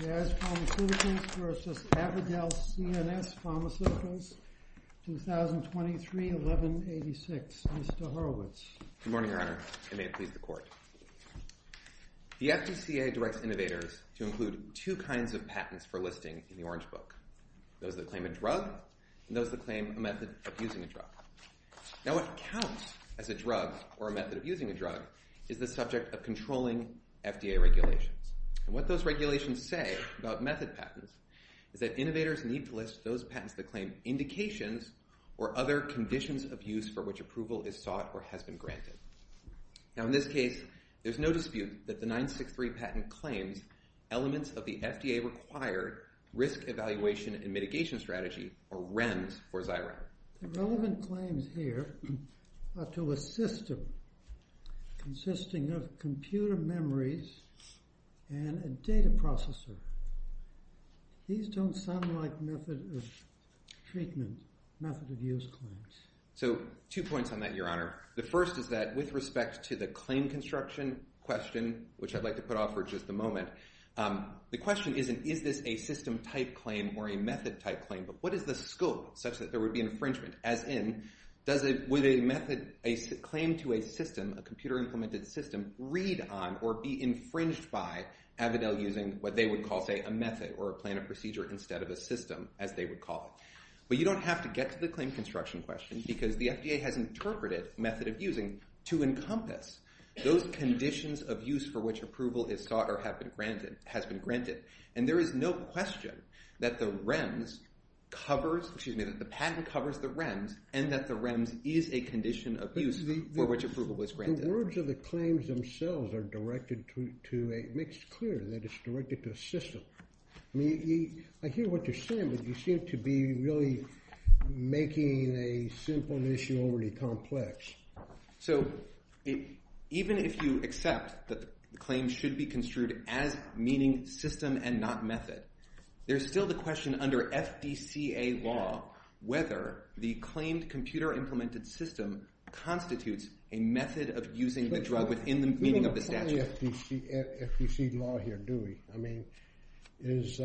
Jazz Pharmaceuticals v. Avadel CNS Pharmaceuticals, 2023-11-86 Mr. Horowitz Good morning, Your Honor. And may it please the Court. The FDCA directs innovators to include two kinds of patents for listing in the Orange Book. Those that claim a drug, and those that claim a method of using a drug. Now, what counts as a drug or a method of using a drug is the subject of controlling FDA regulations. And what those regulations say about method patents is that innovators need to list those patents that claim indications or other conditions of use for which approval is sought or has been granted. Now, in this case, there's no dispute that the 963 patent claims elements of the FDA-required Risk Evaluation and Mitigation Strategy, or REMS, for Xyrem. The relevant claims here are to a system consisting of computer memories and a data processor. These don't sound like method of treatment, method of use claims. So, two points on that, Your Honor. The first is that, with respect to the claim construction question, which I'd like to put off for just a moment, the question isn't, is this a system-type claim or a method-type claim, but what is the scope such that there would be infringement? As in, does a claim to a system, a computer-implemented system, read on or be infringed by Avidel using what they would call, say, a method or a plan of procedure instead of a system, as they would call it? But you don't have to get to the claim construction question because the FDA has interpreted method of using to encompass those conditions of use for which approval is sought or has been granted. And there is no question that the patent covers the REMS and that the REMS is a condition of use for which approval was granted. The words of the claims themselves make it clear that it's directed to a system. I hear what you're saying, but you seem to be really making a simple issue already complex. So even if you accept that the claim should be construed as meaning system and not method, there's still the question under FDCA law whether the claimed computer-implemented system constitutes a method of using the drug within the meaning of the statute. We don't apply FDC law here, do we? I mean, this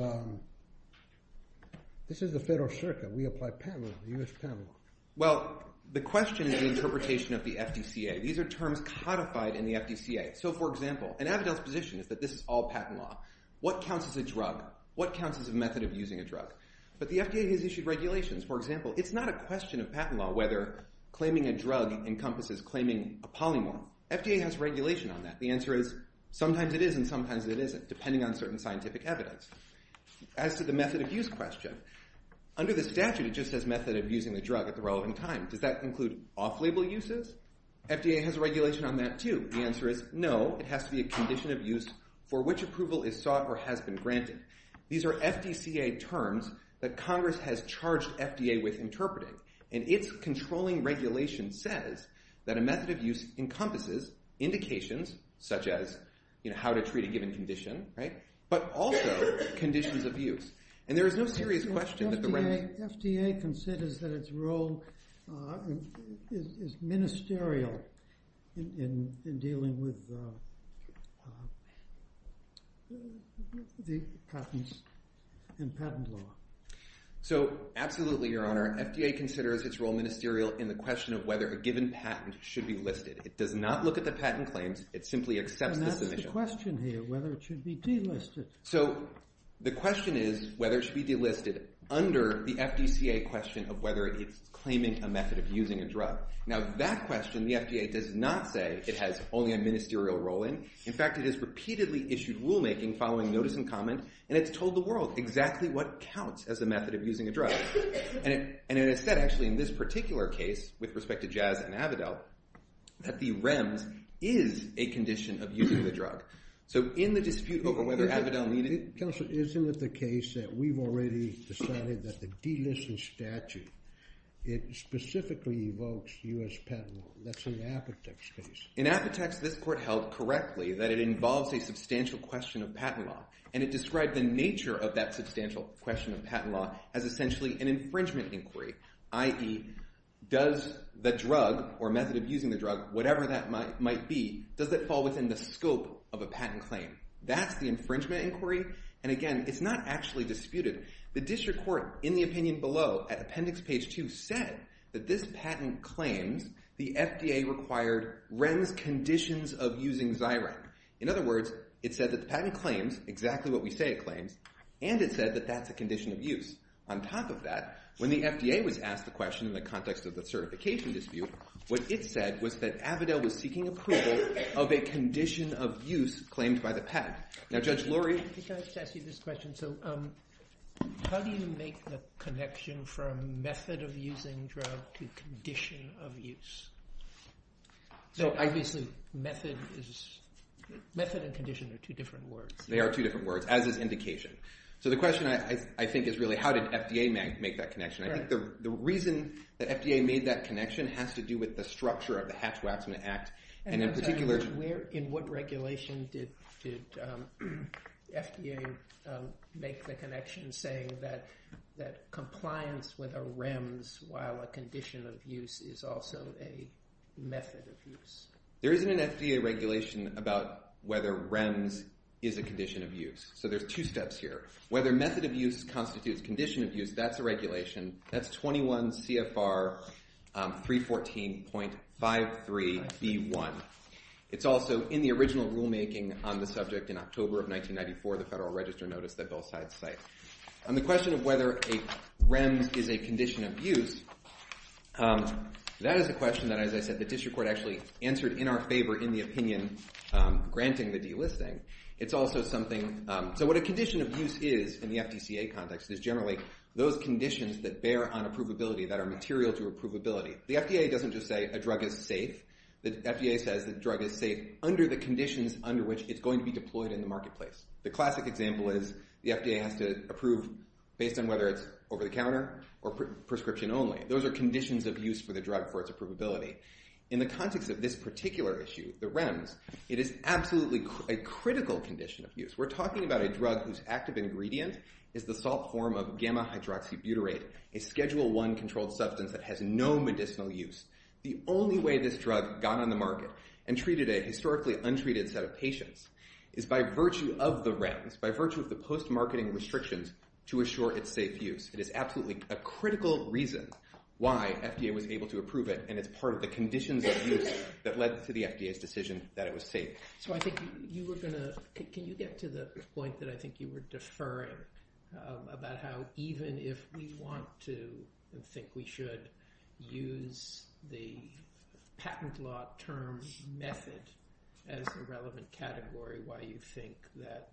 is the Federal Circuit. We apply patent law, the U.S. Patent Law. Well, the question is the interpretation of the FDCA. These are terms codified in the FDCA. So, for example, an evidence position is that this is all patent law. What counts as a drug? What counts as a method of using a drug? But the FDA has issued regulations. For example, it's not a question of patent law whether claiming a drug encompasses claiming a polymorph. FDA has regulation on that. The answer is sometimes it is and sometimes it isn't, depending on certain scientific evidence. As to the method of use question, under the statute, it just says method of using the drug at the relevant time. Does that include off-label uses? FDA has a regulation on that, too. The answer is no. It has to be a condition of use for which approval is sought or has been granted. These are FDCA terms that Congress has charged FDA with interpreting, and its controlling regulation says that a method of use encompasses indications, such as how to treat a given condition, but also conditions of use. FDA considers that its role is ministerial in dealing with the patents and patent law. Absolutely, Your Honor. FDA considers its role ministerial in the question of whether a given patent should be listed. It does not look at the patent claims. It simply accepts the submission. That's the question here, whether it should be delisted. The question is whether it should be delisted under the FDCA question of whether it's claiming a method of using a drug. That question, the FDA does not say it has only a ministerial role in. In fact, it has repeatedly issued rulemaking following notice and comment, and it's told the world exactly what counts as a method of using a drug. It is said, actually, in this particular case, with respect to Jazz and Avidel, that the REMS is a condition of using the drug. So in the dispute over whether Avidel needed— Counsel, isn't it the case that we've already decided that the delisting statute, it specifically evokes U.S. patent law. That's in Apotex case. In Apotex, this court held correctly that it involves a substantial question of patent law, and it described the nature of that substantial question of patent law as essentially an infringement inquiry, i.e., does the drug or method of using the drug, whatever that might be, does it fall within the scope of a patent claim? That's the infringement inquiry, and again, it's not actually disputed. The district court, in the opinion below, at appendix page 2, said that this patent claims the FDA required REMS conditions of using Xyren. In other words, it said that the patent claims exactly what we say it claims, and it said that that's a condition of use. On top of that, when the FDA was asked the question in the context of the certification dispute, what it said was that Avidel was seeking approval of a condition of use claimed by the patent. Now, Judge Lurie? I think I should ask you this question. So how do you make the connection from method of using drug to condition of use? So obviously method and condition are two different words. They are two different words, as is indication. So the question, I think, is really how did FDA make that connection? I think the reason that FDA made that connection has to do with the structure of the Hatch-Watson Act, and in particular- In what regulation did FDA make the connection saying that compliance with a REMS while a condition of use is also a method of use? There isn't an FDA regulation about whether REMS is a condition of use. So there's two steps here. Whether method of use constitutes condition of use, that's a regulation. That's 21 CFR 314.53B1. It's also in the original rulemaking on the subject in October of 1994, the Federal Register notice that Bill Sides cited. On the question of whether a REMS is a condition of use, that is a question that, as I said, the district court actually answered in our favor in the opinion granting the delisting. It's also something- So what a condition of use is in the FDCA context is generally those conditions that bear on approvability, that are material to approvability. The FDA doesn't just say a drug is safe. The FDA says the drug is safe under the conditions under which it's going to be deployed in the marketplace. The classic example is the FDA has to approve based on whether it's over-the-counter or prescription only. Those are conditions of use for the drug for its approvability. In the context of this particular issue, the REMS, it is absolutely a critical condition of use. We're talking about a drug whose active ingredient is the salt form of gamma-hydroxybutyrate, a Schedule I controlled substance that has no medicinal use. The only way this drug got on the market and treated a historically untreated set of patients is by virtue of the REMS, by virtue of the post-marketing restrictions, to assure its safe use. It is absolutely a critical reason why FDA was able to approve it, and it's part of the conditions of use that led to the FDA's decision that it was safe. So I think you were going to – can you get to the point that I think you were deferring about how even if we want to and think we should use the patent law term method as a relevant category, why you think that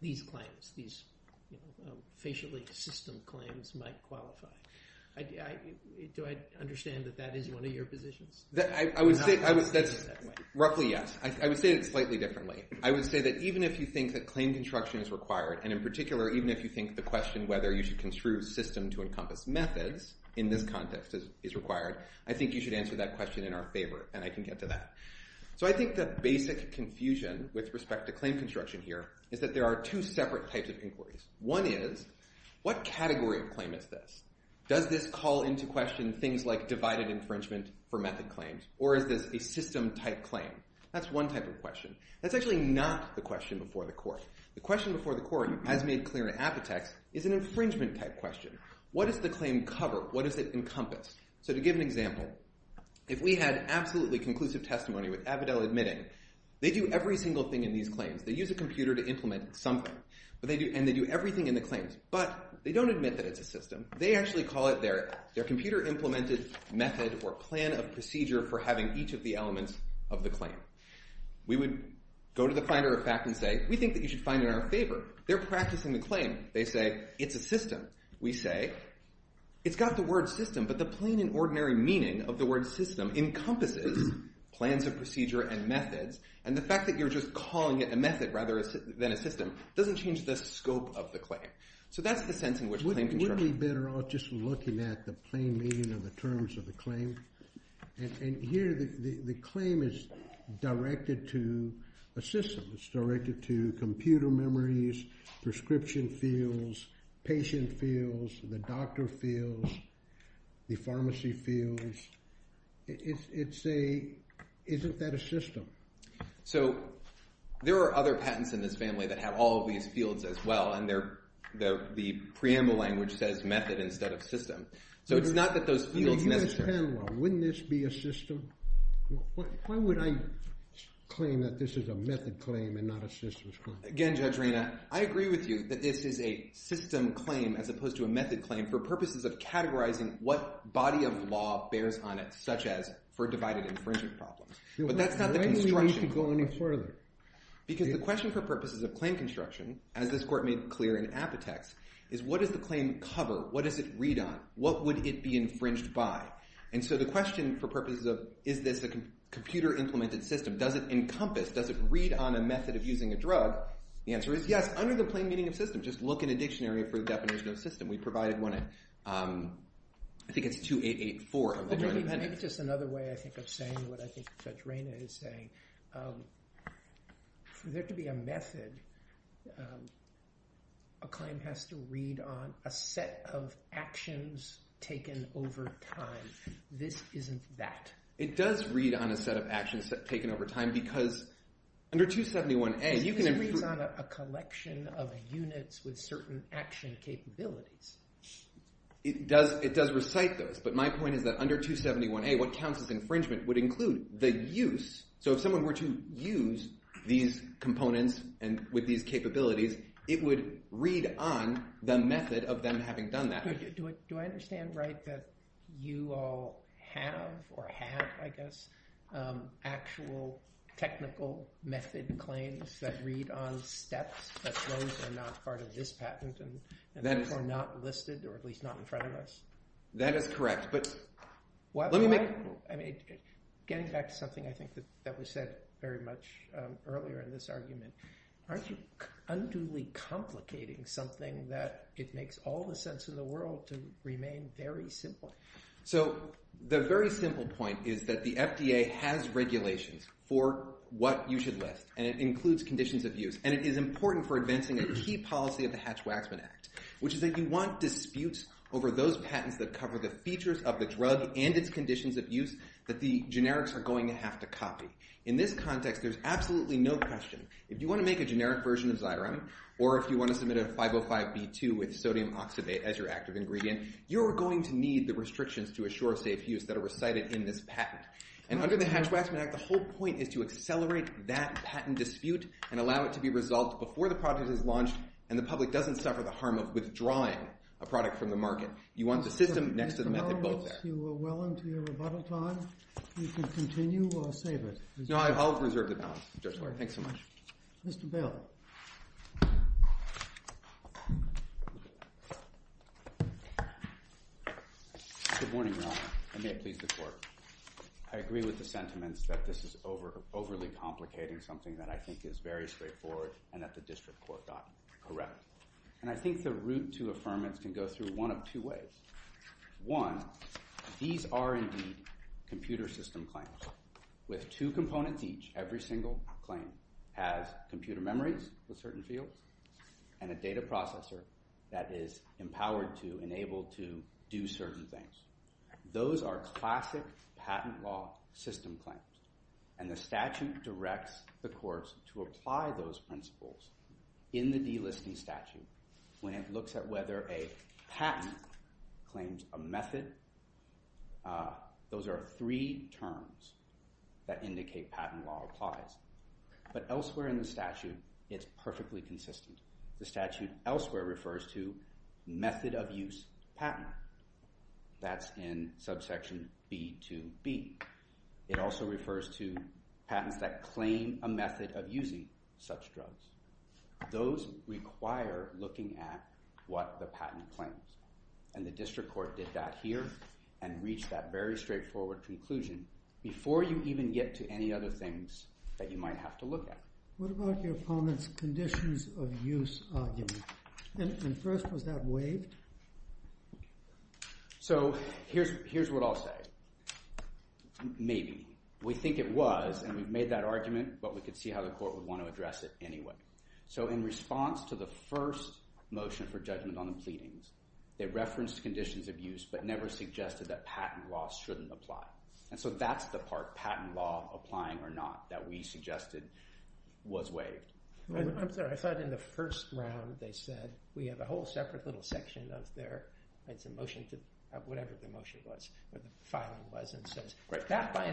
these claims, these facially system claims, might qualify? Do I understand that that is one of your positions? I would say – roughly, yes. I would say it slightly differently. I would say that even if you think that claim construction is required, and in particular even if you think the question whether you should construe system-to-encompass methods in this context is required, I think you should answer that question in our favor, and I can get to that. So I think the basic confusion with respect to claim construction here is that there are two separate types of inquiries. One is, what category of claim is this? Does this call into question things like divided infringement for method claims, or is this a system-type claim? That's one type of question. That's actually not the question before the court. The question before the court, as made clear in Apotex, is an infringement-type question. What does the claim cover? What does it encompass? So to give an example, if we had absolutely conclusive testimony with Avidel admitting, they do every single thing in these claims. They use a computer to implement something, and they do everything in the claims, but they don't admit that it's a system. They actually call it their computer-implemented method or plan of procedure for having each of the elements of the claim. We would go to the finder of fact and say, we think that you should find it in our favor. They're practicing the claim. They say, it's a system. We say, it's got the word system, but the plain and ordinary meaning of the word system encompasses plans of procedure and methods, and the fact that you're just calling it a method rather than a system doesn't change the scope of the claim. So that's the sense in which a claim can serve. Wouldn't we be better off just looking at the plain meaning of the terms of the claim? And here the claim is directed to a system. It's directed to computer memories, prescription fields, patient fields, the doctor fields, the pharmacy fields. Isn't that a system? So there are other patents in this family that have all of these fields as well, and the preamble language says method instead of system. So it's not that those fields necessarily— Why would I claim that this is a method claim and not a systems claim? Again, Judge Rena, I agree with you that this is a system claim as opposed to a method claim for purposes of categorizing what body of law bears on it, such as for divided infringement problems. But that's not the construction— Why do we need to go any further? Because the question for purposes of claim construction, as this Court made clear in Apotex, is what does the claim cover? What does it read on? What would it be infringed by? And so the question for purposes of is this a computer-implemented system? Does it encompass? Does it read on a method of using a drug? The answer is yes, under the plain meaning of system. Just look in a dictionary for the definition of system. We provided one at—I think it's 2884 of the Joint Appendix. Maybe just another way, I think, of saying what I think Judge Rena is saying. For there to be a method, a claim has to read on a set of actions taken over time. This isn't that. It does read on a set of actions taken over time because under 271A, you can— This reads on a collection of units with certain action capabilities. It does recite those, but my point is that under 271A, what counts as infringement would include the use— So if someone were to use these components with these capabilities, it would read on the method of them having done that. Do I understand right that you all have or have, I guess, actual technical method claims that read on steps, but those are not part of this patent and those are not listed or at least not in front of us? That is correct, but let me make— Getting back to something I think that was said very much earlier in this argument, aren't you unduly complicating something that it makes all the sense in the world to remain very simple? So the very simple point is that the FDA has regulations for what you should list, and it includes conditions of use, and it is important for advancing a key policy of the Hatch-Waxman Act, which is that you want disputes over those patents that cover the features of the drug and its conditions of use that the generics are going to have to copy. In this context, there's absolutely no question. If you want to make a generic version of Xyron or if you want to submit a 505B2 with sodium oxidate as your active ingredient, you're going to need the restrictions to assure safe use that are recited in this patent. And under the Hatch-Waxman Act, the whole point is to accelerate that patent dispute and allow it to be resolved before the product is launched and the public doesn't suffer the harm of withdrawing a product from the market. You want the system next to the method both there. If that's too well into your rebuttal time, you can continue or save it. No, I'll reserve the balance. Thanks so much. Mr. Bale. Good morning, Your Honor, and may it please the Court. I agree with the sentiments that this is overly complicating, something that I think is very straightforward and that the district court got correct. And I think the route to affirmance can go through one of two ways. One, these are indeed computer system claims with two components each. Every single claim has computer memories with certain fields and a data processor that is empowered to enable to do certain things. Those are classic patent law system claims, and the statute directs the courts to apply those principles in the delisting statute when it looks at whether a patent claims a method. Those are three terms that indicate patent law applies. But elsewhere in the statute, it's perfectly consistent. The statute elsewhere refers to method of use patent. That's in subsection B2B. It also refers to patents that claim a method of using such drugs. Those require looking at what the patent claims, and the district court did that here and reached that very straightforward conclusion before you even get to any other things that you might have to look at. What about your opponent's conditions of use argument? And first, was that waived? So here's what I'll say. We think it was, and we've made that argument, but we could see how the court would want to address it anyway. So in response to the first motion for judgment on the pleadings, they referenced conditions of use but never suggested that patent law shouldn't apply. And so that's the part, patent law applying or not, that we suggested was waived. I'm sorry. I thought in the first round they said, we have a whole separate little section of their motion, whatever the motion was, or the filing was, that by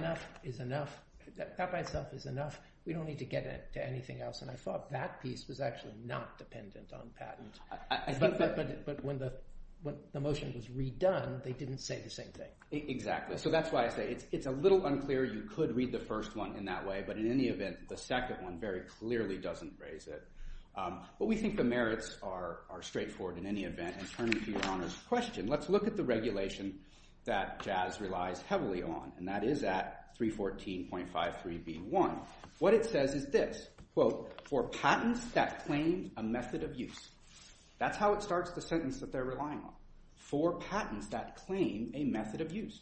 itself is enough. We don't need to get into anything else. And I thought that piece was actually not dependent on patent. But when the motion was redone, they didn't say the same thing. Exactly. So that's why I say it's a little unclear. You could read the first one in that way, but in any event, the second one very clearly doesn't raise it. But we think the merits are straightforward in any event. And turning to your Honor's question, let's look at the regulation that Jazz relies heavily on, and that is at 314.53b1. What it says is this, quote, for patents that claim a method of use. That's how it starts the sentence that they're relying on. For patents that claim a method of use.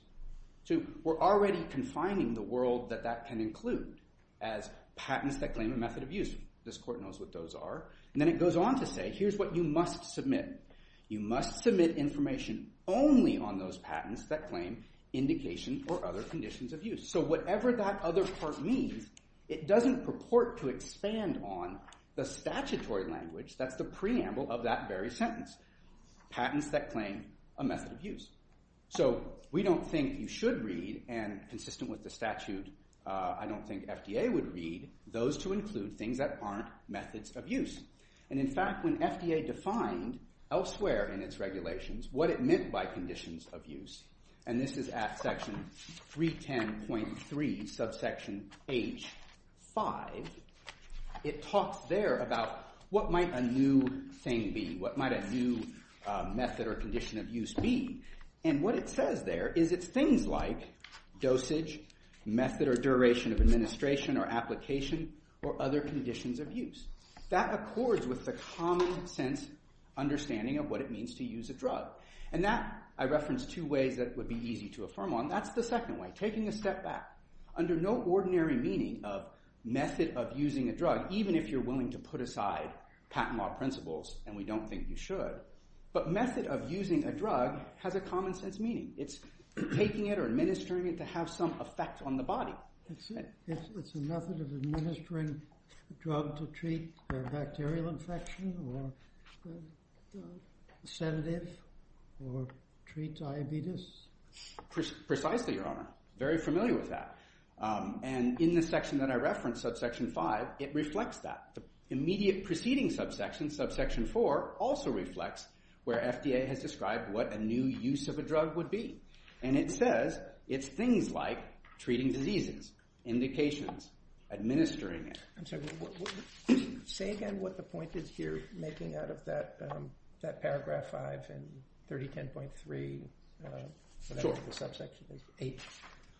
So we're already confining the world that that can include as patents that claim a method of use. This court knows what those are. And then it goes on to say, here's what you must submit. You must submit information only on those patents that claim indication or other conditions of use. So whatever that other part means, it doesn't purport to expand on the statutory language that's the preamble of that very sentence. Patents that claim a method of use. So we don't think you should read, and consistent with the statute, I don't think FDA would read, those to include things that aren't methods of use. And in fact, when FDA defined elsewhere in its regulations what it meant by conditions of use, and this is at section 310.3, subsection H5, it talks there about what might a new thing be, what might a new method or condition of use be. And what it says there is it's things like dosage, or other conditions of use. That accords with the common sense understanding of what it means to use a drug. And that, I reference two ways that would be easy to affirm on. That's the second way, taking a step back. Under no ordinary meaning of method of using a drug, even if you're willing to put aside patent law principles, and we don't think you should, but method of using a drug has a common sense meaning. It's taking it or administering it to have some effect on the body. It's a method of administering a drug to treat a bacterial infection, or a sedative, or treat diabetes. Precisely, Your Honor. Very familiar with that. And in the section that I referenced, subsection 5, it reflects that. The immediate preceding subsection, subsection 4, also reflects where FDA has described what a new use of a drug would be. And it says it's things like treating diseases, indications, administering it. I'm sorry. Say again what the point is here, making out of that paragraph 5 in 3010.3, whatever the subsection is, 8.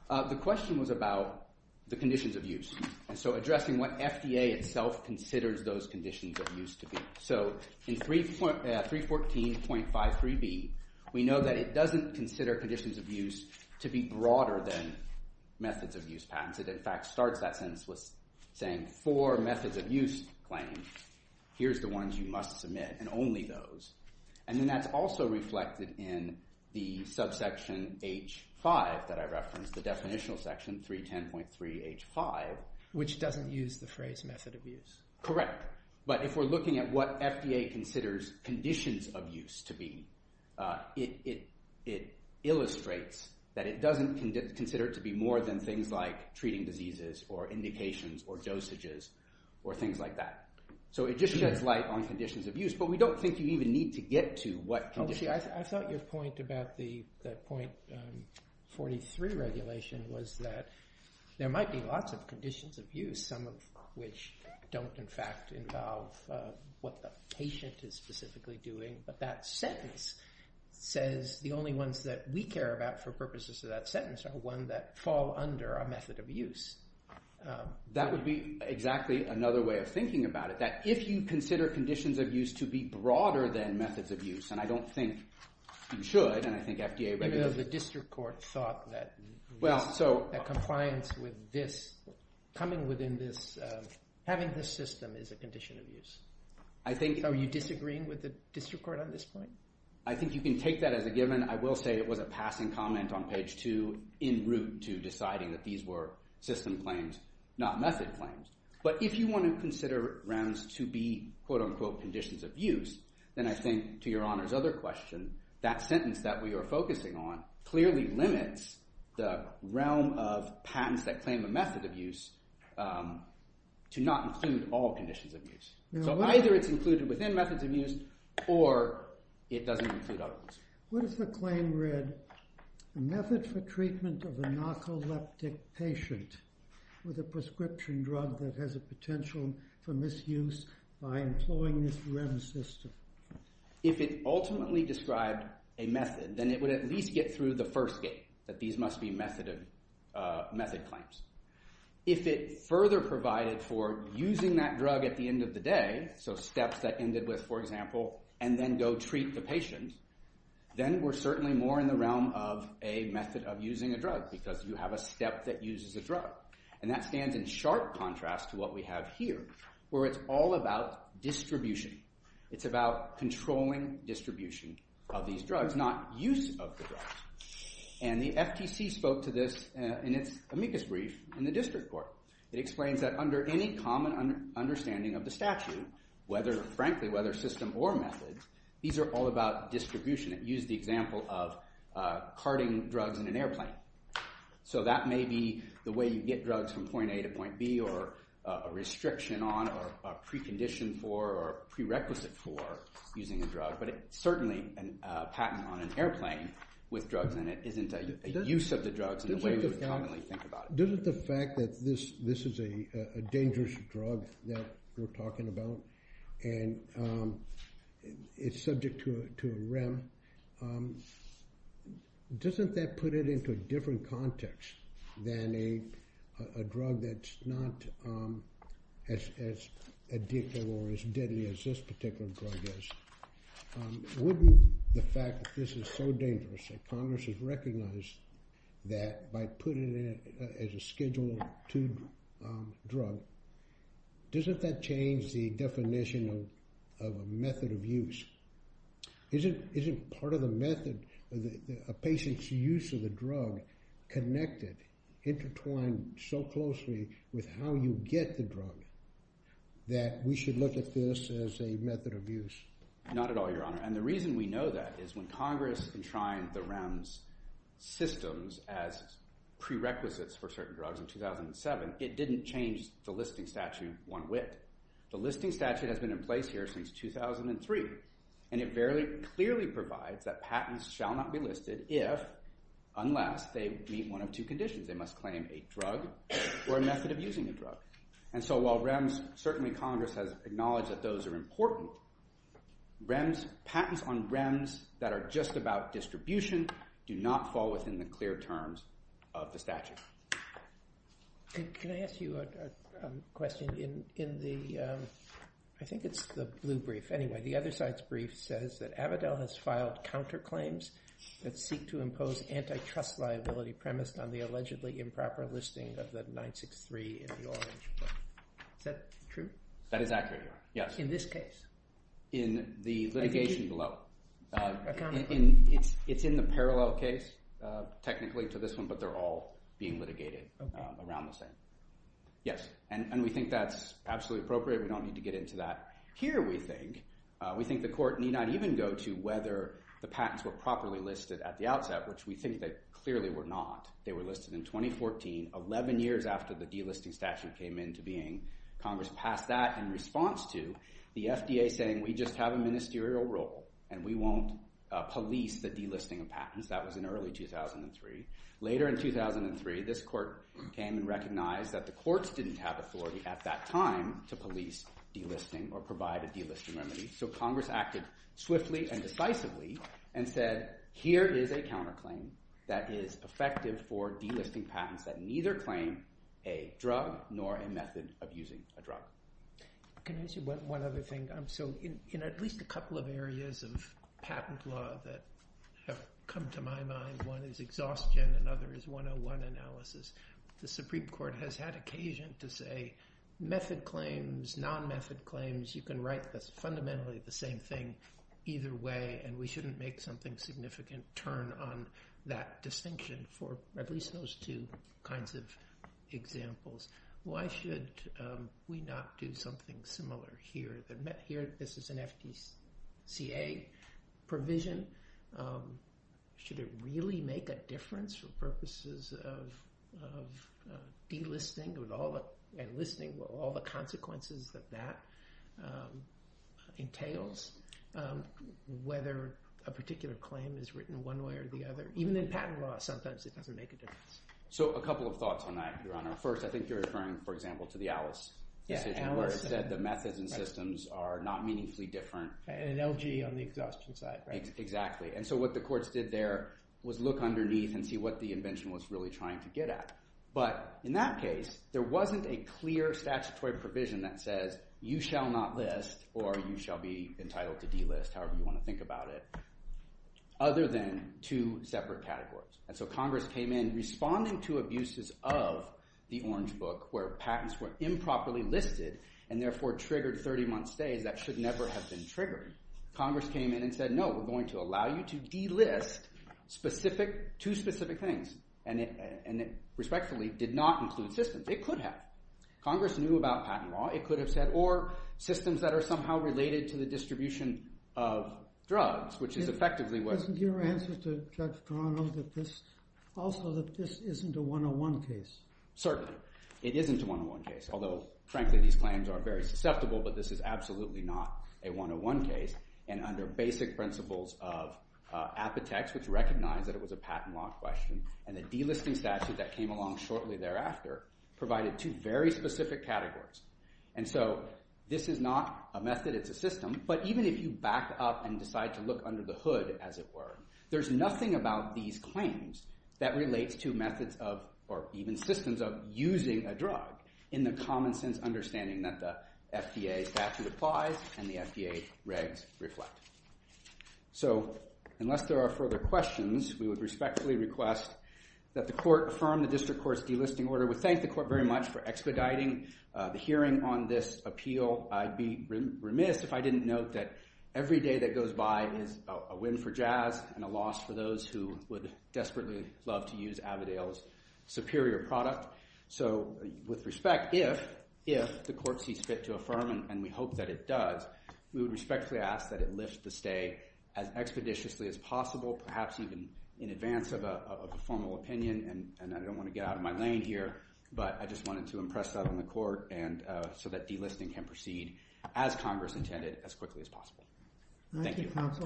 The question was about the conditions of use. And so addressing what FDA itself considers those conditions of use to be. So in 314.53b, we know that it doesn't consider conditions of use to be broader than methods of use patents. It in fact starts that sentence with saying for methods of use claims, here's the ones you must submit, and only those. And then that's also reflected in the subsection H5 that I referenced, the definitional section, 310.3 H5. Which doesn't use the phrase method of use. Correct. But if we're looking at what FDA considers conditions of use to be, it illustrates that it doesn't consider it to be more than things like treating diseases, or indications, or dosages, or things like that. So it just sheds light on conditions of use. But we don't think you even need to get to what conditions. I thought your point about the .43 regulation was that there might be lots of conditions of use, some of which don't in fact involve what the patient is specifically doing. But that sentence says the only ones that we care about for purposes of that sentence are the ones that fall under a method of use. That would be exactly another way of thinking about it. That if you consider conditions of use to be broader than methods of use, and I don't think you should, and I think FDA... Even though the district court thought that compliance with this, coming within this, having this system is a condition of use. Are you disagreeing with the district court on this point? I think you can take that as a given. I will say it was a passing comment on page 2 in route to deciding that these were system claims, not method claims. But if you want to consider rounds to be, quote-unquote, conditions of use, then I think, to Your Honor's other question, that sentence that we are focusing on clearly limits the realm of patents that claim a method of use to not include all conditions of use. So either it's included within methods of use or it doesn't include all of them. What if the claim read, method for treatment of a narcoleptic patient with a prescription drug that has a potential for misuse by employing this REM system? If it ultimately described a method, then it would at least get through the first gate that these must be method claims. If it further provided for using that drug at the end of the day, so steps that ended with, for example, and then go treat the patient, then we're certainly more in the realm of a method of using a drug because you have a step that uses a drug. And that stands in sharp contrast to what we have here, It's about controlling distribution of these drugs, not use of the drugs. And the FTC spoke to this in its amicus brief in the district court. It explains that under any common understanding of the statute, whether, frankly, whether system or method, these are all about distribution. It used the example of carting drugs in an airplane. So that may be the way you get drugs from point A to point B or a restriction on or a precondition for or a prerequisite for using a drug. But it's certainly a patent on an airplane with drugs in it isn't a use of the drugs in the way you would commonly think about it. Doesn't the fact that this is a dangerous drug that we're talking about and it's subject to a REM, doesn't that put it into a different context than a drug that's not as addictive or as deadly as this particular drug is? Wouldn't the fact that this is so dangerous that Congress has recognized that by putting it as a Schedule II drug, doesn't that change the definition of a method of use? Isn't part of the method a patient's use of the drug connected, intertwined so closely with how you get the drug that we should look at this as a method of use? Not at all, Your Honor. And the reason we know that is when Congress enshrined the REM's systems as prerequisites for certain drugs in 2007, it didn't change the listing statute one whit. The listing statute has been in place here since 2003 and it very clearly provides that patents shall not be listed unless they meet one of two conditions. They must claim a drug or a method of using a drug. And so while REM's, certainly Congress has acknowledged that those are important, REM's, patents on REM's that are just about distribution do not fall within the clear terms of the statute. Can I ask you a question? In the, I think it's the blue brief. Anyway, the other side's brief says that Avidel has filed counterclaims that seek to impose antitrust liability premised on the allegedly improper listing of the 963 in the orange book. Is that true? That is accurate, Your Honor, yes. In this case? In the litigation below. It's in the parallel case technically to this one, but they're all being litigated around the same. Yes, and we think that's absolutely appropriate. We don't need to get into that. Here we think, we think the court need not even go to whether the patents were properly listed at the outset, which we think they clearly were not. They were listed in 2014, 11 years after the delisting statute came into being. Congress passed that in response to the FDA saying we just have a ministerial role and we won't police the delisting of patents. That was in early 2003. Later in 2003, this court came and recognized that the courts didn't have authority at that time to police delisting or provide a delisting remedy. So Congress acted swiftly and decisively and said here is a counterclaim that is effective for delisting patents that neither claim a drug nor a method of using a drug. Can I say one other thing? So in at least a couple of areas of patent law that have come to my mind, one is exhaustion, another is 101 analysis, the Supreme Court has had occasion to say method claims, non-method claims, you can write fundamentally the same thing either way and we shouldn't make something significant to turn on that distinction for at least those two kinds of examples. Why should we not do something similar here? This is an FDCA provision. Should it really make a difference for purposes of delisting and listing all the consequences that that entails? Whether a particular claim is written one way or the other. Even in patent law, sometimes it doesn't make a difference. So a couple of thoughts on that, Your Honor. First, I think you're referring, for example, to the Alice decision where it said the methods and systems are not meaningfully different. And an LG on the exhaustion side. Exactly. And so what the courts did there was look underneath and see what the invention was really trying to get at. But in that case, there wasn't a clear statutory provision that says you shall not list or you shall be entitled to delist, however you want to think about it, other than two separate categories. And so Congress came in responding to abuses of the Orange Book where patents were improperly listed and therefore triggered 30-month stays that should never have been triggered. Congress came in and said, no, we're going to allow you to delist two specific things. And it respectfully did not include systems. It could have. Congress knew about patent law. It could have said, or systems that are somehow related to the distribution of drugs, which is effectively what... Isn't your answer to Judge Carano that this isn't a 101 case? Certainly. It isn't a 101 case. Although, frankly, these claims are very susceptible, but this is absolutely not a 101 case. And under basic principles of apotex, which recognized that it was a patent law question, and the delisting statute that came along shortly thereafter provided two very specific categories. And so this is not a method. It's a system. But even if you back up and decide to look under the hood, as it were, there's nothing about these claims that relates to methods of, or even systems of, using a drug in the common sense understanding that the FDA statute applies and the FDA regs reflect. So unless there are further questions, we would respectfully request that the Court in its first delisting order would thank the Court very much for expediting the hearing on this appeal. I'd be remiss if I didn't note that every day that goes by is a win for Jazz and a loss for those who would desperately love to use Avodale's superior product. So with respect, if the Court sees fit to affirm, and we hope that it does, we would respectfully ask that it lift the stay as expeditiously as possible, perhaps even in advance of a formal opinion. And I don't want to get out of my lane here, but I just wanted to impress that on the Court so that delisting can proceed, as Congress intended, as quickly as possible. Thank you. Thank you, counsel.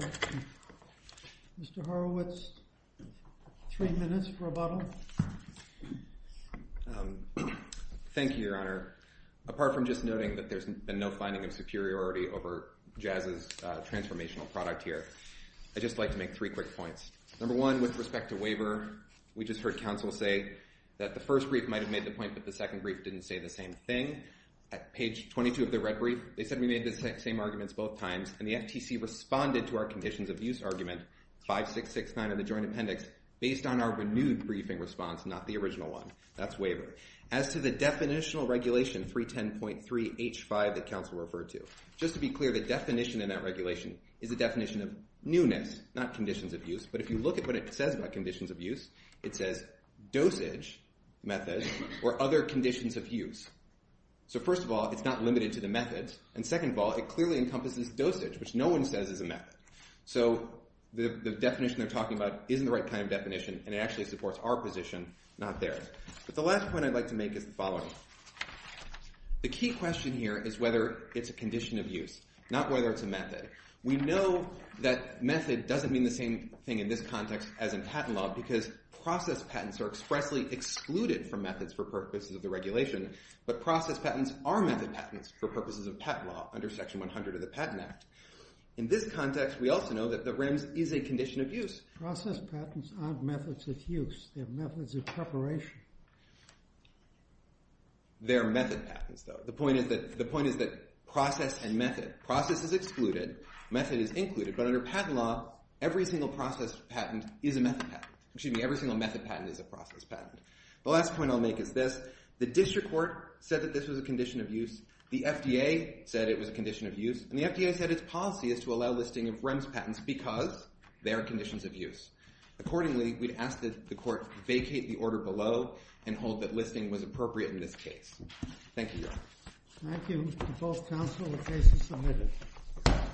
Mr. Horowitz, three minutes for a bottle. Thank you, Your Honor. Apart from just noting that there's been no finding of superiority over Jazz's transformational product here, I'd just like to make three quick points. Number one, with respect to waiver, we just heard counsel say that the first brief might have made the point that the second brief didn't say the same thing. At page 22 of the red brief, they said we made the same arguments both times, and the FTC responded to our conditions of use argument, 5669 of the Joint Appendix, based on our renewed briefing response, not the original one. That's waiver. As to the definitional regulation, 310.3H5, that counsel referred to, just to be clear, the definition in that regulation is a definition of newness, not conditions of use. But if you look at what it says about conditions of use, it says dosage methods or other conditions of use. So first of all, it's not limited to the methods, and second of all, it clearly encompasses dosage, which no one says is a method. So the definition they're talking about isn't the right kind of definition, and it actually supports our position, not theirs. But the last point I'd like to make is the following. not whether it's a method. We know that method doesn't mean the same thing in this context as in patent law, because process patents are expressly excluded from methods for purposes of the regulation, but process patents are method patents for purposes of patent law, under Section 100 of the Patent Act. In this context, we also know that the RIMS is a condition of use. Process patents aren't methods of use. They're methods of preparation. They're method patents, though. The point is that process and method, process is excluded, method is included, but under patent law, every single process patent is a method patent. Excuse me, every single method patent is a process patent. The last point I'll make is this. The district court said that this was a condition of use. The FDA said it was a condition of use, and the FDA said its policy is to allow listing of RIMS patents because they are conditions of use. Accordingly, we'd ask that the court vacate the order below and hold that listing was appropriate in this case. Thank you, Your Honor. Thank you to both counsel. The case is submitted.